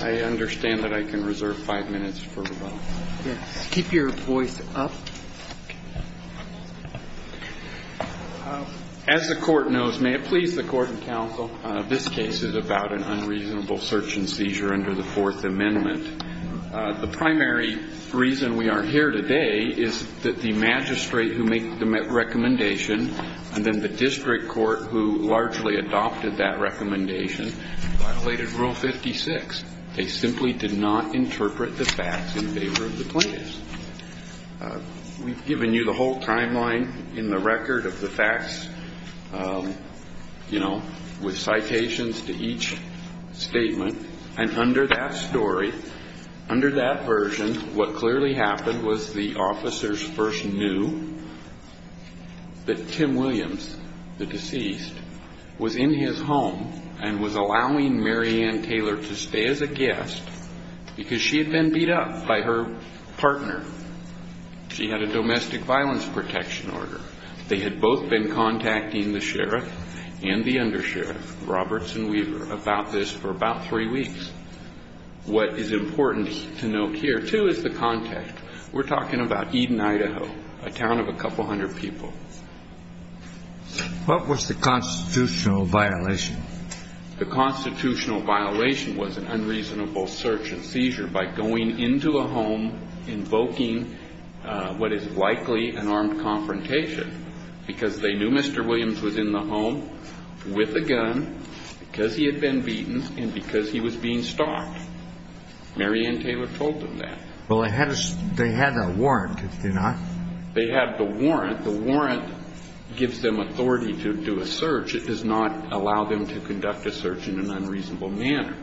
I understand that I can reserve five minutes for rebuttal. Yes. Keep your voice up. As the Court knows, may it please the Court and Counsel, this case is about an unreasonable search and seizure under the Fourth Amendment. The primary reason we are here today is that the magistrate who made the recommendation and then the district court who largely adopted that recommendation violated Rule 56. They simply did not interpret the facts in favor of the plaintiffs. We've given you the whole timeline in the record of the facts, you know, with citations to each statement. And under that story, under that version, what clearly happened was the officers first knew that Tim Williams, the deceased, was in his home and was allowing Mary Ann Taylor to stay as a guest because she had been beat up by her partner. She had a domestic violence protection order. They had both been contacting the sheriff and the undersheriff, Roberts and Weaver, about this for about three weeks. What is important to note here, too, is the context. We're talking about Eden, Idaho, a town of a couple hundred people. What was the constitutional violation? The constitutional violation was an unreasonable search and seizure by going into a home, invoking what is likely an armed confrontation because they knew Mr. Williams was in the home with a gun because he had been beaten and because he was being stalked. Mary Ann Taylor told them that. Well, they had a warrant, did they not? They had the warrant. The warrant gives them authority to do a search. It does not allow them to conduct a search in an unreasonable manner.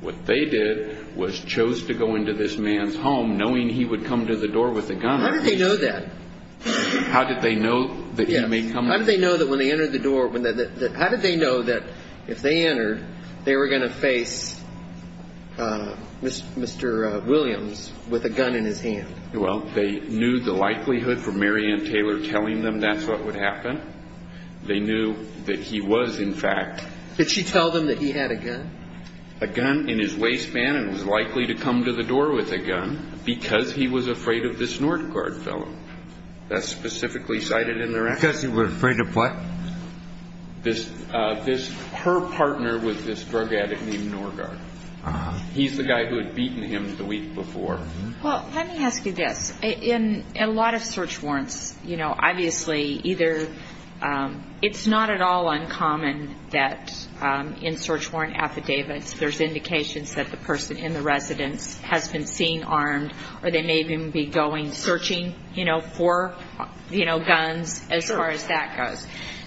What they did was chose to go into this man's home knowing he would come to the door with a gun. How did they know that? How did they know that he may come in? How did they know that when they entered the door, how did they know that if they entered, they were going to face Mr. Williams with a gun in his hand? Well, they knew the likelihood for Mary Ann Taylor telling them that's what would happen. They knew that he was, in fact. Did she tell them that he had a gun? A gun in his waistband and was likely to come to the door with a gun because he was afraid of this Norgard fellow. That's specifically cited in the record. Because he was afraid of what? Her partner was this drug addict named Norgard. He's the guy who had beaten him the week before. Well, let me ask you this. In a lot of search warrants, you know, obviously either it's not at all uncommon that in search warrant affidavits there's indications that the person in the residence has been seen armed or they may even be going searching for guns as far as that goes.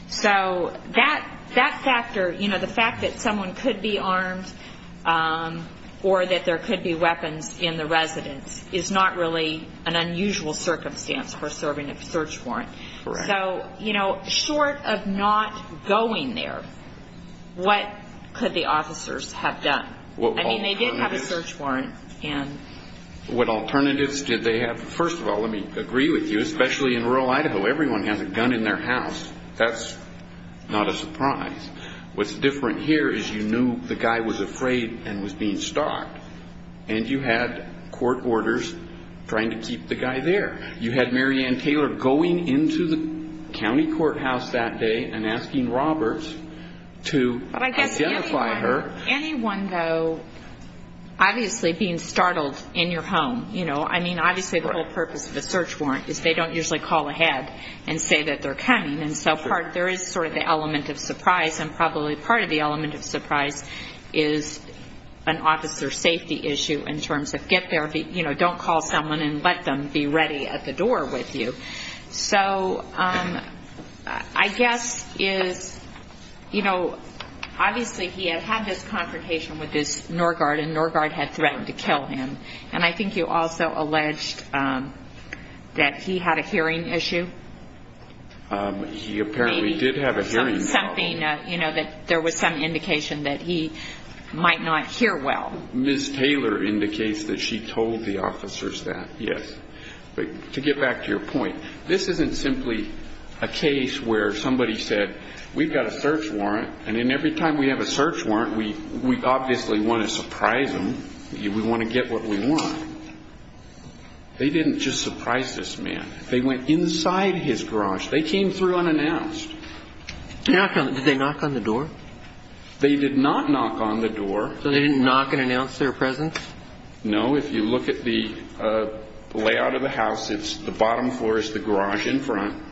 So that factor, you know, the fact that someone could be armed or that there could be weapons in the residence is not really an unusual circumstance for serving a search warrant. So, you know, short of not going there, what could the officers have done? I mean, they did have a search warrant. What alternatives did they have? First of all, let me agree with you. Especially in rural Idaho, everyone has a gun in their house. That's not a surprise. What's different here is you knew the guy was afraid and was being stalked. And you had court orders trying to keep the guy there. You had Mary Ann Taylor going into the county courthouse that day and asking Roberts to identify her. But I guess anyone, though, obviously being startled in your home, you know, I mean, obviously the whole purpose of a search warrant is they don't usually call ahead and say that they're coming. And so there is sort of the element of surprise. And probably part of the element of surprise is an officer safety issue in terms of get there, you know, don't call someone and let them be ready at the door with you. So I guess is, you know, obviously he had had this confrontation with this NORGARD, and NORGARD had threatened to kill him. And I think you also alleged that he had a hearing issue. He apparently did have a hearing problem. Something, you know, that there was some indication that he might not hear well. Ms. Taylor indicates that she told the officers that, yes. But to get back to your point, this isn't simply a case where somebody said, we've got a search warrant, and then every time we have a search warrant, we obviously want to surprise them. We want to get what we want. They didn't just surprise this man. They went inside his garage. They came through unannounced. Did they knock on the door? They did not knock on the door. So they didn't knock and announce their presence? No. If you look at the layout of the house, it's the bottom floor is the garage in front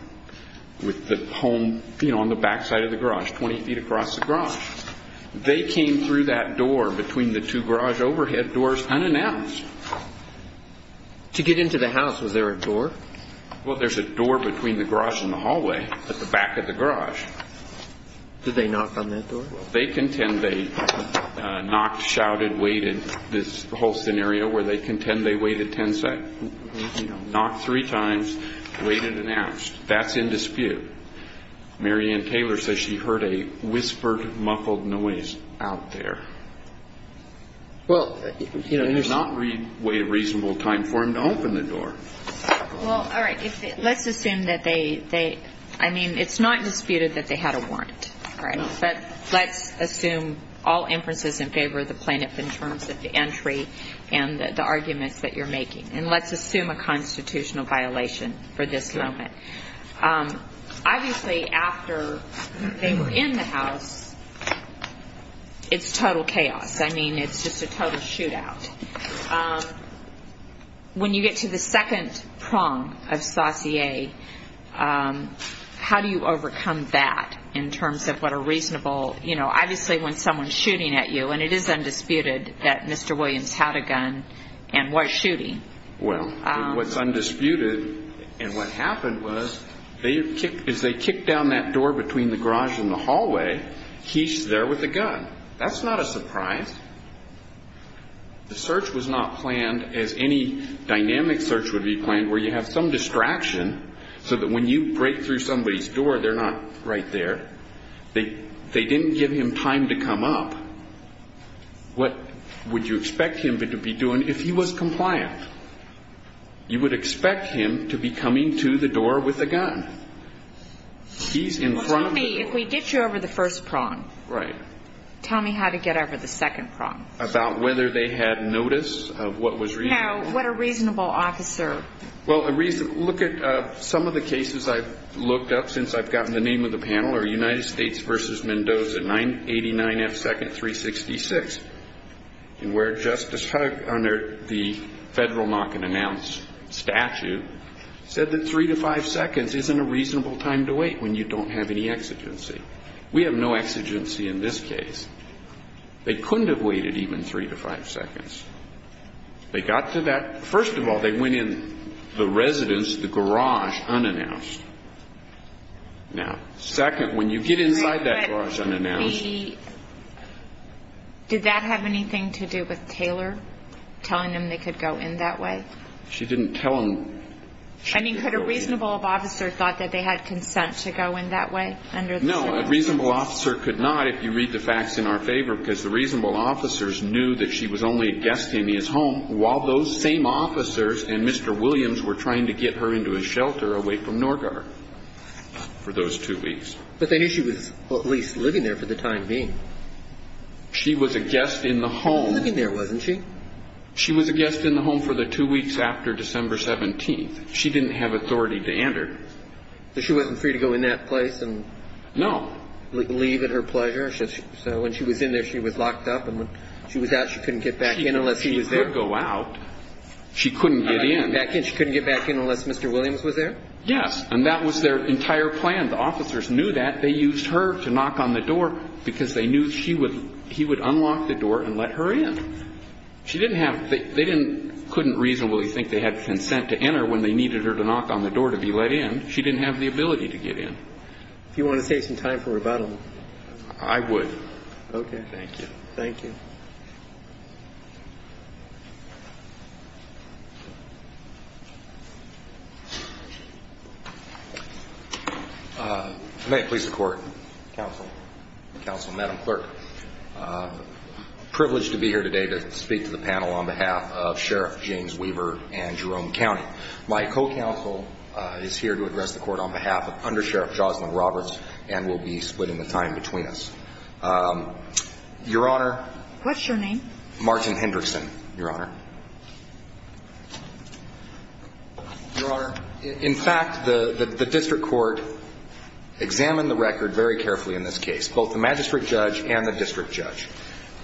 with the home, you know, on the backside of the garage, 20 feet across the garage. They came through that door between the two garage overhead doors unannounced. To get into the house, was there a door? Well, there's a door between the garage and the hallway at the back of the garage. Did they knock on that door? They contend they knocked, shouted, waited. This whole scenario where they contend they waited 10 seconds. Knocked three times, waited, announced. That's in dispute. Mary Ann Taylor says she heard a whispered, muffled noise out there. Well, you know, there's not a reasonable time for them to open the door. Well, all right. Let's assume that they, I mean, it's not disputed that they had a warrant, all right? But let's assume all inferences in favor of the plaintiff in terms of the entry and the arguments that you're making. And let's assume a constitutional violation for this moment. Obviously, after they were in the house, it's total chaos. I mean, it's just a total shootout. When you get to the second prong of saucier, how do you overcome that in terms of what a reasonable, you know, Well, what's undisputed and what happened was as they kicked down that door between the garage and the hallway, he's there with a gun. That's not a surprise. The search was not planned as any dynamic search would be planned where you have some distraction so that when you break through somebody's door, they're not right there. They didn't give him time to come up. What would you expect him to be doing if he was compliant? You would expect him to be coming to the door with a gun. He's in front of the door. If we get you over the first prong, tell me how to get over the second prong. About whether they had notice of what was reasonable. No, what a reasonable officer. Well, look at some of the cases I've looked up since I've gotten the name of the panel are United States v. Mendoza, 989F 2nd 366, where Justice Huck, under the federal knock and announce statute, said that three to five seconds isn't a reasonable time to wait when you don't have any exigency. We have no exigency in this case. They couldn't have waited even three to five seconds. They got to that. First of all, they went in the residence, the garage unannounced. Now, second, when you get inside that garage unannounced. Did that have anything to do with Taylor telling them they could go in that way? She didn't tell them. I mean, could a reasonable officer have thought that they had consent to go in that way? No, a reasonable officer could not, if you read the facts in our favor, because the reasonable officers knew that she was only a guest in his home while those same officers and Mr. Williams were trying to get her into a shelter away from Norgard for those two weeks. But they knew she was at least living there for the time being. She was a guest in the home. She was living there, wasn't she? She was a guest in the home for the two weeks after December 17th. She didn't have authority to enter. So she wasn't free to go in that place and leave at her pleasure? No. So when she was in there, she was locked up, and when she was out, she couldn't get back in unless she was there? She could go out. She couldn't get in. She couldn't get back in unless Mr. Williams was there? Yes. And that was their entire plan. The officers knew that. They used her to knock on the door because they knew she would unlock the door and let her in. She didn't have the – they couldn't reasonably think they had consent to enter when they needed her to knock on the door to be let in. She didn't have the ability to get in. If you want to save some time for rebuttal. I would. Okay. Thank you. Thank you. Thank you. May it please the Court. Counsel. Counsel, Madam Clerk. Privileged to be here today to speak to the panel on behalf of Sheriff James Weaver and Jerome County. My co-counsel is here to address the Court on behalf of Under Sheriff Jocelyn Roberts and will be splitting the time between us. Your Honor. What's your name? Martin Hendrickson, Your Honor. Your Honor, in fact, the district court examined the record very carefully in this case. Both the magistrate judge and the district judge.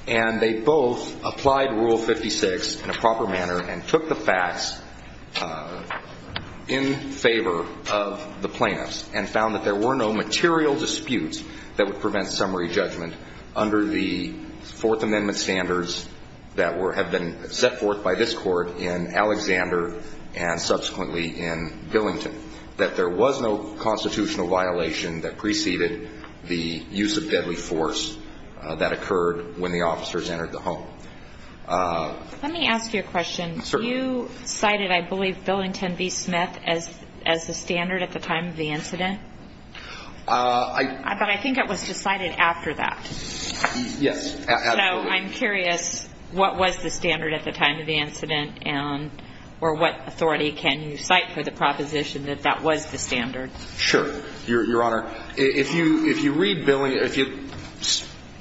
And they both applied Rule 56 in a proper manner and took the facts in favor of the plaintiffs and found that there were no material disputes that would prevent summary judgment under the Fourth Amendment standards that have been set forth by this Court in Alexander and subsequently in Billington. That there was no constitutional violation that preceded the use of deadly force that occurred when the officers entered the home. Let me ask you a question. Certainly. You cited, I believe, Billington v. Smith as the standard at the time of the incident? But I think it was decided after that. Yes, absolutely. So I'm curious what was the standard at the time of the incident or what authority can you cite for the proposition that that was the standard? Sure. Your Honor, if you read Billington,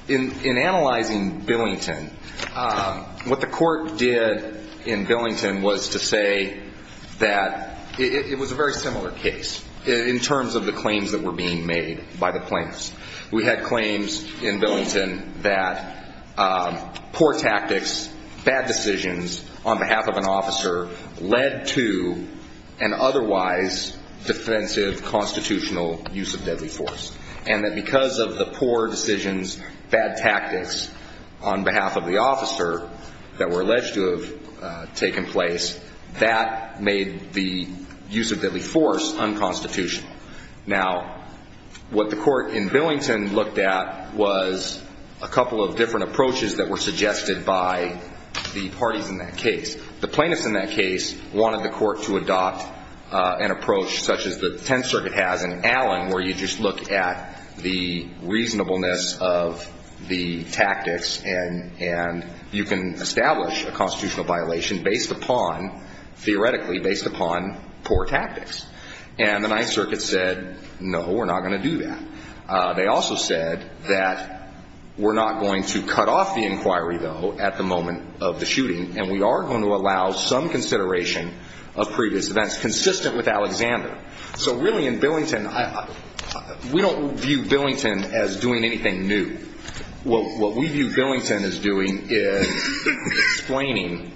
in analyzing Billington, what the court did in Billington was to say that it was a very similar case in terms of the claims that were being made by the plaintiffs. We had claims in Billington that poor tactics, bad decisions on behalf of an officer led to an otherwise defensive constitutional use of deadly force and that because of the poor decisions, bad tactics on behalf of the officer that were alleged to have taken place, that made the use of deadly force unconstitutional. Now, what the court in Billington looked at was a couple of different approaches that were suggested by the parties in that case. The plaintiffs in that case wanted the court to adopt an approach such as the Tenth Circuit has in Allen where you just look at the reasonableness of the tactics and you can establish a constitutional violation theoretically based upon poor tactics. And the Ninth Circuit said, no, we're not going to do that. They also said that we're not going to cut off the inquiry, though, at the moment of the shooting and we are going to allow some consideration of previous events consistent with Alexander. So really in Billington, we don't view Billington as doing anything new. What we view Billington as doing is explaining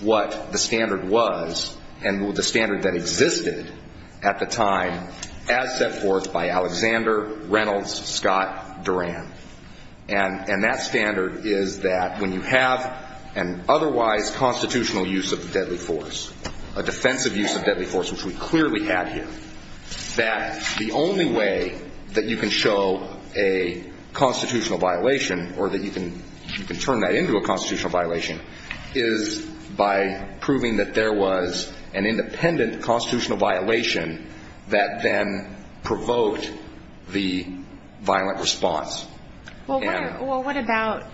what the standard was and the standard that existed at the time as set forth by Alexander, Reynolds, Scott, Duran. And that standard is that when you have an otherwise constitutional use of deadly force, a defensive use of deadly force, which we clearly had here, that the only way that you can show a constitutional violation or that you can turn that into a constitutional violation is by proving that there was an independent constitutional violation that then provoked the violent response. Well, what about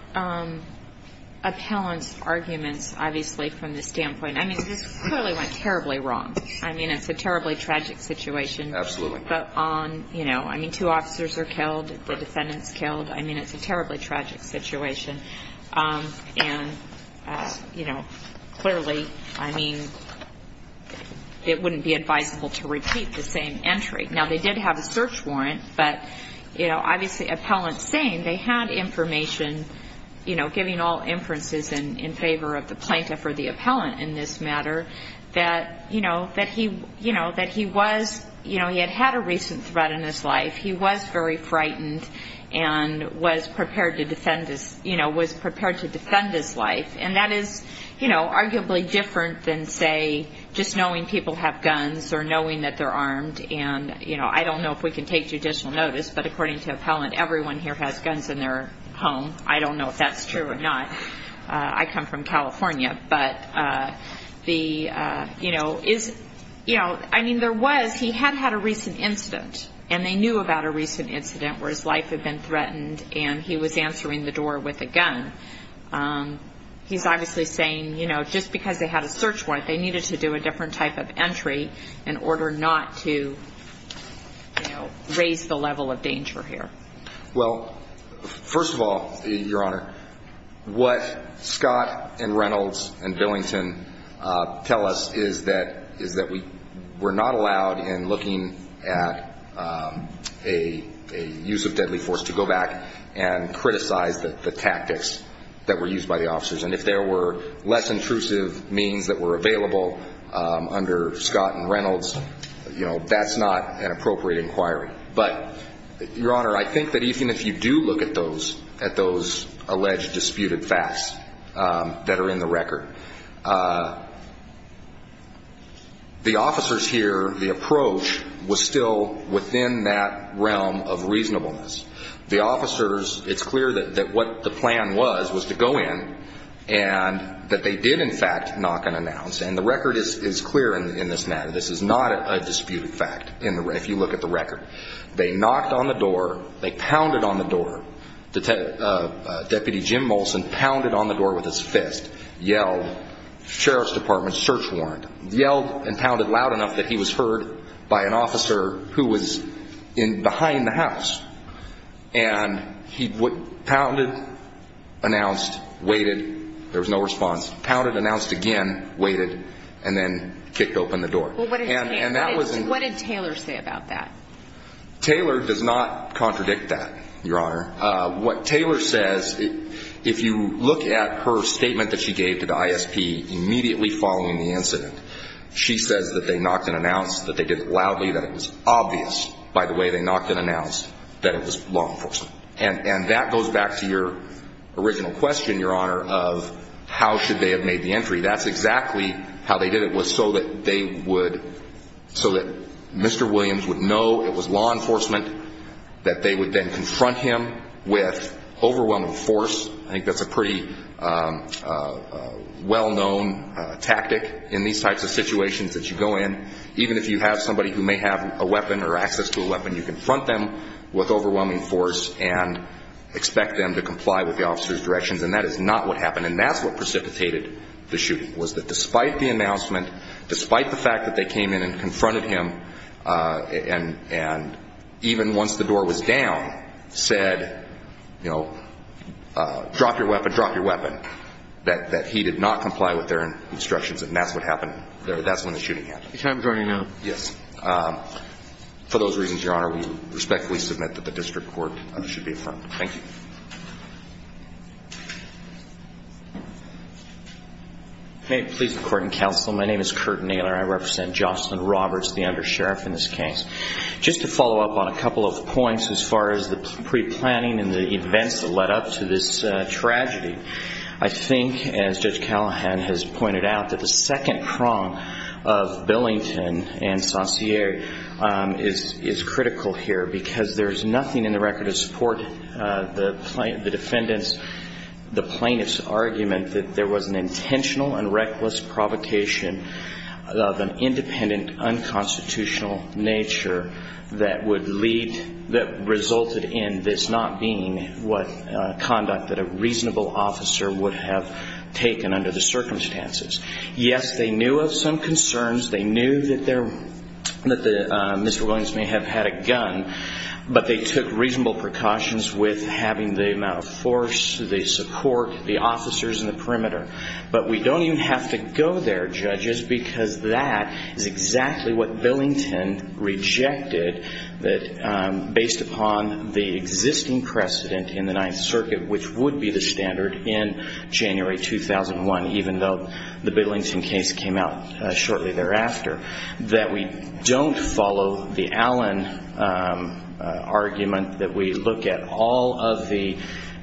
appellant's arguments, obviously, from the standpoint I mean, this clearly went terribly wrong. I mean, it's a terribly tragic situation. Absolutely. But on, you know, I mean, two officers are killed, the defendant's killed. I mean, it's a terribly tragic situation. And, you know, clearly, I mean, it wouldn't be advisable to repeat the same entry. Now, they did have a search warrant, but, you know, obviously appellant's saying they had information, you know, giving all inferences in favor of the plaintiff or the appellant in this matter that, you know, that he was, you know, he had had a recent threat in his life. He was very frightened and was prepared to defend his life. And that is, you know, arguably different than, say, just knowing people have guns or knowing that they're armed. And, you know, I don't know if we can take judicial notice, but according to appellant, everyone here has guns in their home. I don't know if that's true or not. I come from California. But the, you know, is, you know, I mean, there was, he had had a recent incident, and they knew about a recent incident where his life had been threatened and he was answering the door with a gun. He's obviously saying, you know, just because they had a search warrant, they needed to do a different type of entry in order not to, you know, raise the level of danger here. Well, first of all, Your Honor, what Scott and Reynolds and Billington tell us is that we're not allowed in looking at a use of deadly force to go back and criticize the tactics that were used by the officers. And if there were less intrusive means that were available under Scott and Reynolds, you know, that's not an appropriate inquiry. But, Your Honor, I think that even if you do look at those alleged disputed facts that are in the record, the officers here, the approach, was still within that realm of reasonableness. The officers, it's clear that what the plan was was to go in and that they did in fact knock and announce. And the record is clear in this matter. They knocked on the door. They pounded on the door. Deputy Jim Molson pounded on the door with his fist, yelled, Sheriff's Department search warrant, yelled and pounded loud enough that he was heard by an officer who was behind the house. And he pounded, announced, waited. There was no response. Pounded, announced again, waited, and then kicked open the door. Well, what did Taylor say about that? Taylor does not contradict that, Your Honor. What Taylor says, if you look at her statement that she gave to the ISP immediately following the incident, she says that they knocked and announced, that they did it loudly, that it was obvious by the way they knocked and announced that it was law enforcement. And that goes back to your original question, Your Honor, of how should they have made the entry. That's exactly how they did it was so that they would, so that Mr. Williams would know it was law enforcement, that they would then confront him with overwhelming force. I think that's a pretty well-known tactic in these types of situations that you go in. Even if you have somebody who may have a weapon or access to a weapon, you confront them with overwhelming force and expect them to comply with the officer's directions. And that is not what happened. And that's what precipitated the shooting was that despite the announcement, despite the fact that they came in and confronted him, and even once the door was down, said, you know, drop your weapon, drop your weapon, that he did not comply with their instructions. And that's what happened. That's when the shooting happened. Can I adjourn now? Yes. For those reasons, Your Honor, we respectfully submit that the district court should be affirmed. Thank you. May it please the Court and Counsel, my name is Curt Naylor. I represent Jocelyn Roberts, the undersheriff in this case. Just to follow up on a couple of points as far as the preplanning and the events that led up to this tragedy, I think as Judge Callahan has pointed out that the second prong of Billington and Saussure is critical here because there's nothing in the record to support the defendant's, the plaintiff's, argument that there was an intentional and reckless provocation of an independent, unconstitutional nature that would lead, that resulted in this not being conduct that a reasonable officer would have taken under the circumstances. Yes, they knew of some concerns. They knew that Mr. Williams may have had a gun, but they took reasonable precautions with having the amount of force, the support, the officers in the perimeter. But we don't even have to go there, judges, because that is exactly what Billington rejected based upon the existing precedent in the Ninth Circuit, which would be the standard in January 2001, even though the Billington case came out shortly thereafter, that we don't follow the Allen argument, that we look at all of the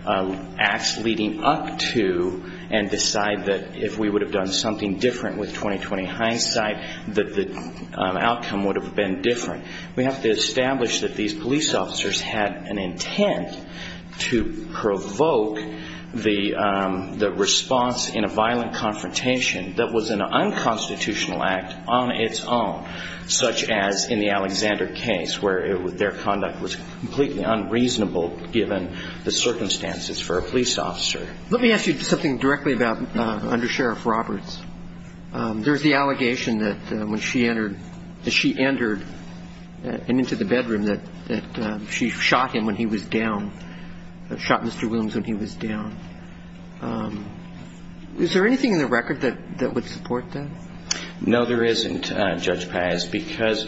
acts leading up to and decide that if we would have done something different with 20-20 hindsight that the outcome would have been different. We have to establish that these police officers had an intent to provoke the response in a violent confrontation that was an unconstitutional act on its own, such as in the Alexander case, where their conduct was completely unreasonable, given the circumstances for a police officer. Let me ask you something directly about under Sheriff Roberts. There's the allegation that when she entered, that she entered and into the bedroom that she shot him when he was down, shot Mr. Williams when he was down. Is there anything in the record that would support that? No, there isn't, Judge Paz, because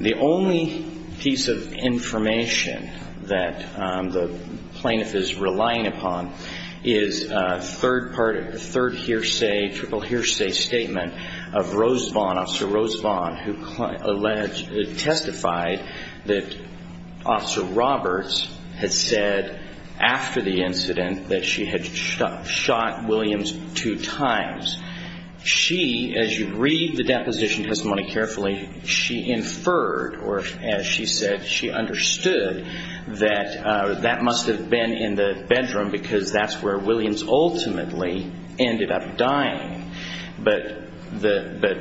the only piece of information that the plaintiff is relying upon is a third hearsay, triple hearsay statement of Rose Vaughn, Officer Rose Vaughn, who testified that Officer Roberts had said after the incident that she had shot Williams two times. She, as you read the deposition testimony carefully, she inferred, or as she said, she understood that that must have been in the bedroom because that's where Williams ultimately ended up dying. But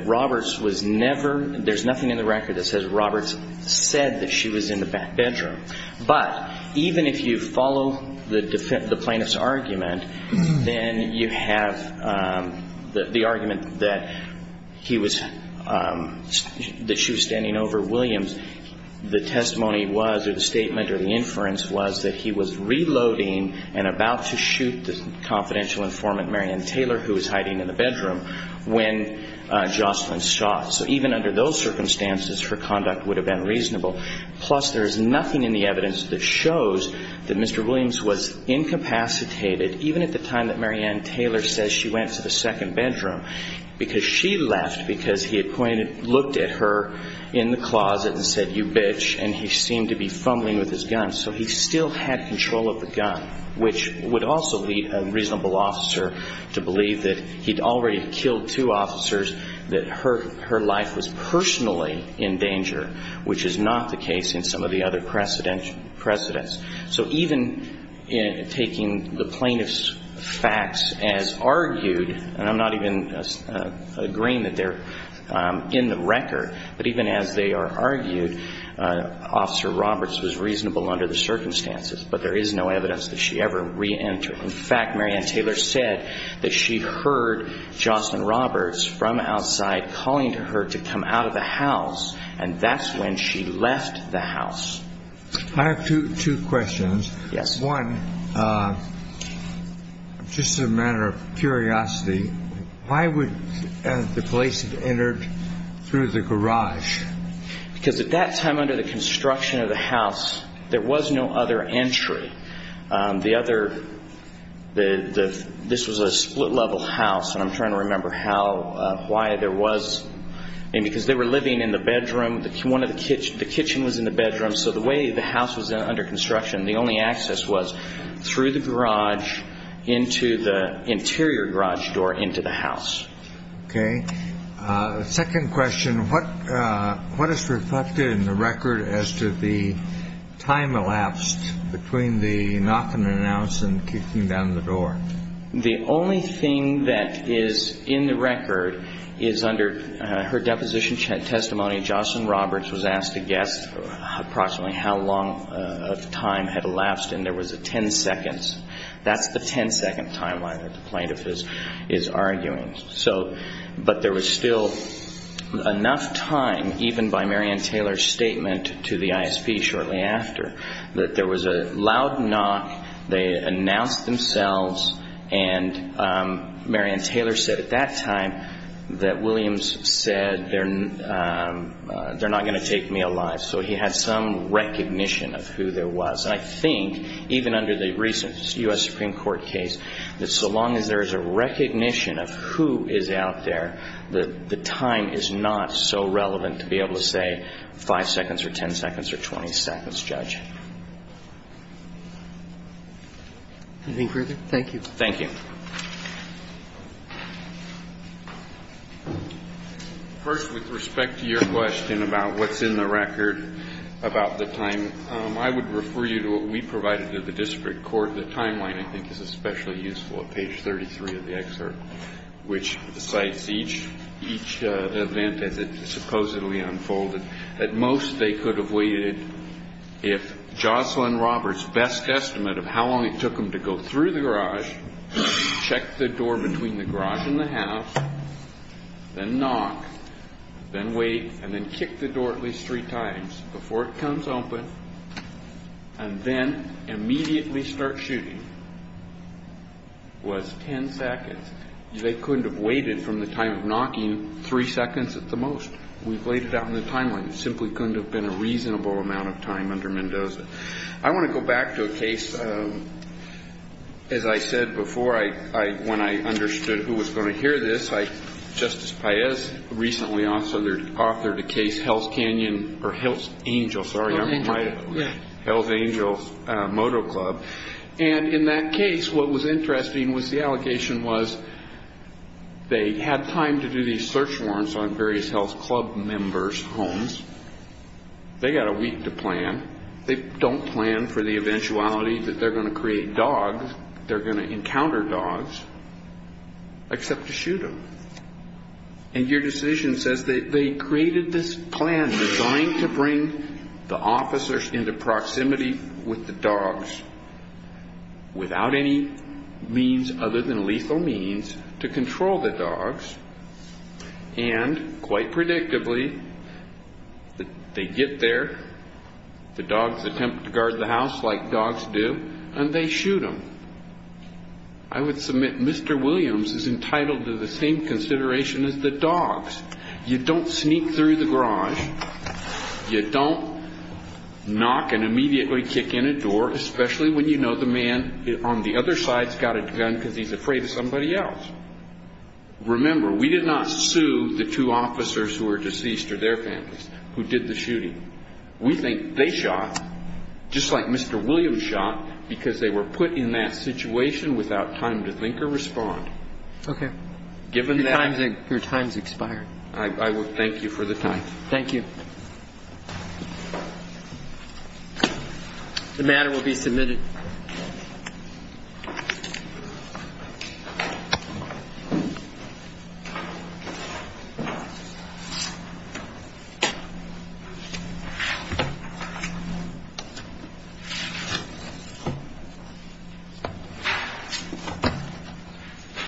Roberts was never, there's nothing in the record that says Roberts said that she was in the bedroom. But even if you follow the plaintiff's argument, then you have the argument that he was, that she was standing over Williams, the testimony was or the statement or the inference was that he was reloading and about to shoot the confidential informant, Marian Taylor, who was hiding in the bedroom when Jocelyn shot. So even under those circumstances, her conduct would have been reasonable. Plus, there's nothing in the evidence that shows that Mr. Williams was incapacitated even at the time that Marian Taylor says she went to the second bedroom because she left, because he had pointed, looked at her in the closet and said, you bitch. And he seemed to be fumbling with his gun. So he still had control of the gun, which would also be a reasonable officer to believe that he'd already killed two officers, that her life was personally in danger, which is not the case in some of the other precedents. So even taking the plaintiff's facts as argued, and I'm not even agreeing that they're in the record, but even as they are argued, Officer Roberts was reasonable under the circumstances, but there is no evidence that she ever reentered. In fact, Marian Taylor said that she heard Jocelyn Roberts from outside calling to her to come out of the house, and that's when she left the house. I have two questions. Yes. One, just as a matter of curiosity, why would the police have entered through the garage? Because at that time under the construction of the house, there was no other entry. The other, this was a split-level house, and I'm trying to remember how, why there was, and because they were living in the bedroom, the kitchen was in the bedroom, so the way the house was under construction, the only access was through the garage into the interior garage door into the house. Okay. Second question, what is reflected in the record as to the time elapsed between the knock and the announce and kicking down the door? The only thing that is in the record is under her deposition testimony, Jocelyn Roberts was asked to guess approximately how long the time had elapsed, and there was a ten seconds. That's the ten-second timeline that the plaintiff is arguing. So, but there was still enough time, even by Marian Taylor's statement to the ISP shortly after, that there was a loud knock, they announced themselves, and Marian Taylor said at that time that Williams said, they're not going to take me alive, so he had some recognition of who there was. And I think, even under the recent U.S. Supreme Court case, that so long as there is a recognition of who is out there, the time is not so relevant to be able to say five seconds or ten seconds or 20 seconds, Judge. Anything further? Thank you. Thank you. First, with respect to your question about what's in the record about the time, I would refer you to what we provided to the district court. The timeline, I think, is especially useful at page 33 of the excerpt, which cites each event as it supposedly unfolded. At most, they could have waited if Jocelyn Roberts' best estimate of how long it took them to go through the garage, check the door between the garage and the house, then knock, then wait, and then kick the door at least three times before it comes open, and then immediately start shooting was ten seconds. They couldn't have waited from the time of knocking three seconds at the most. We've laid it out in the timeline. It simply couldn't have been a reasonable amount of time under Mendoza. I want to go back to a case, as I said before, when I understood who was going to hear this. Justice Paez recently authored a case, Hell's Canyon or Hell's Angel, sorry. Hell's Angel Moto Club. And in that case, what was interesting was the allegation was they had time to do these search warrants on various Hell's Club members' homes. They got a week to plan. They don't plan for the eventuality that they're going to create dogs. They're going to encounter dogs, except to shoot them. And your decision says they created this plan designed to bring the officers into proximity with the dogs without any means other than lethal means to control the dogs, and quite predictably, they get there. The dogs attempt to guard the house like dogs do, and they shoot them. I would submit Mr. Williams is entitled to the same consideration as the dogs. You don't sneak through the garage. You don't knock and immediately kick in a door, especially when you know the man on the other side's got a gun because he's afraid of somebody else. Remember, we did not sue the two officers who were deceased or their families who did the shooting. We think they shot, just like Mr. Williams shot, because they were put in that situation without time to think or respond. Okay. Given that. Your time's expired. I would thank you for the time. Thank you. The matter will be submitted. Thank you.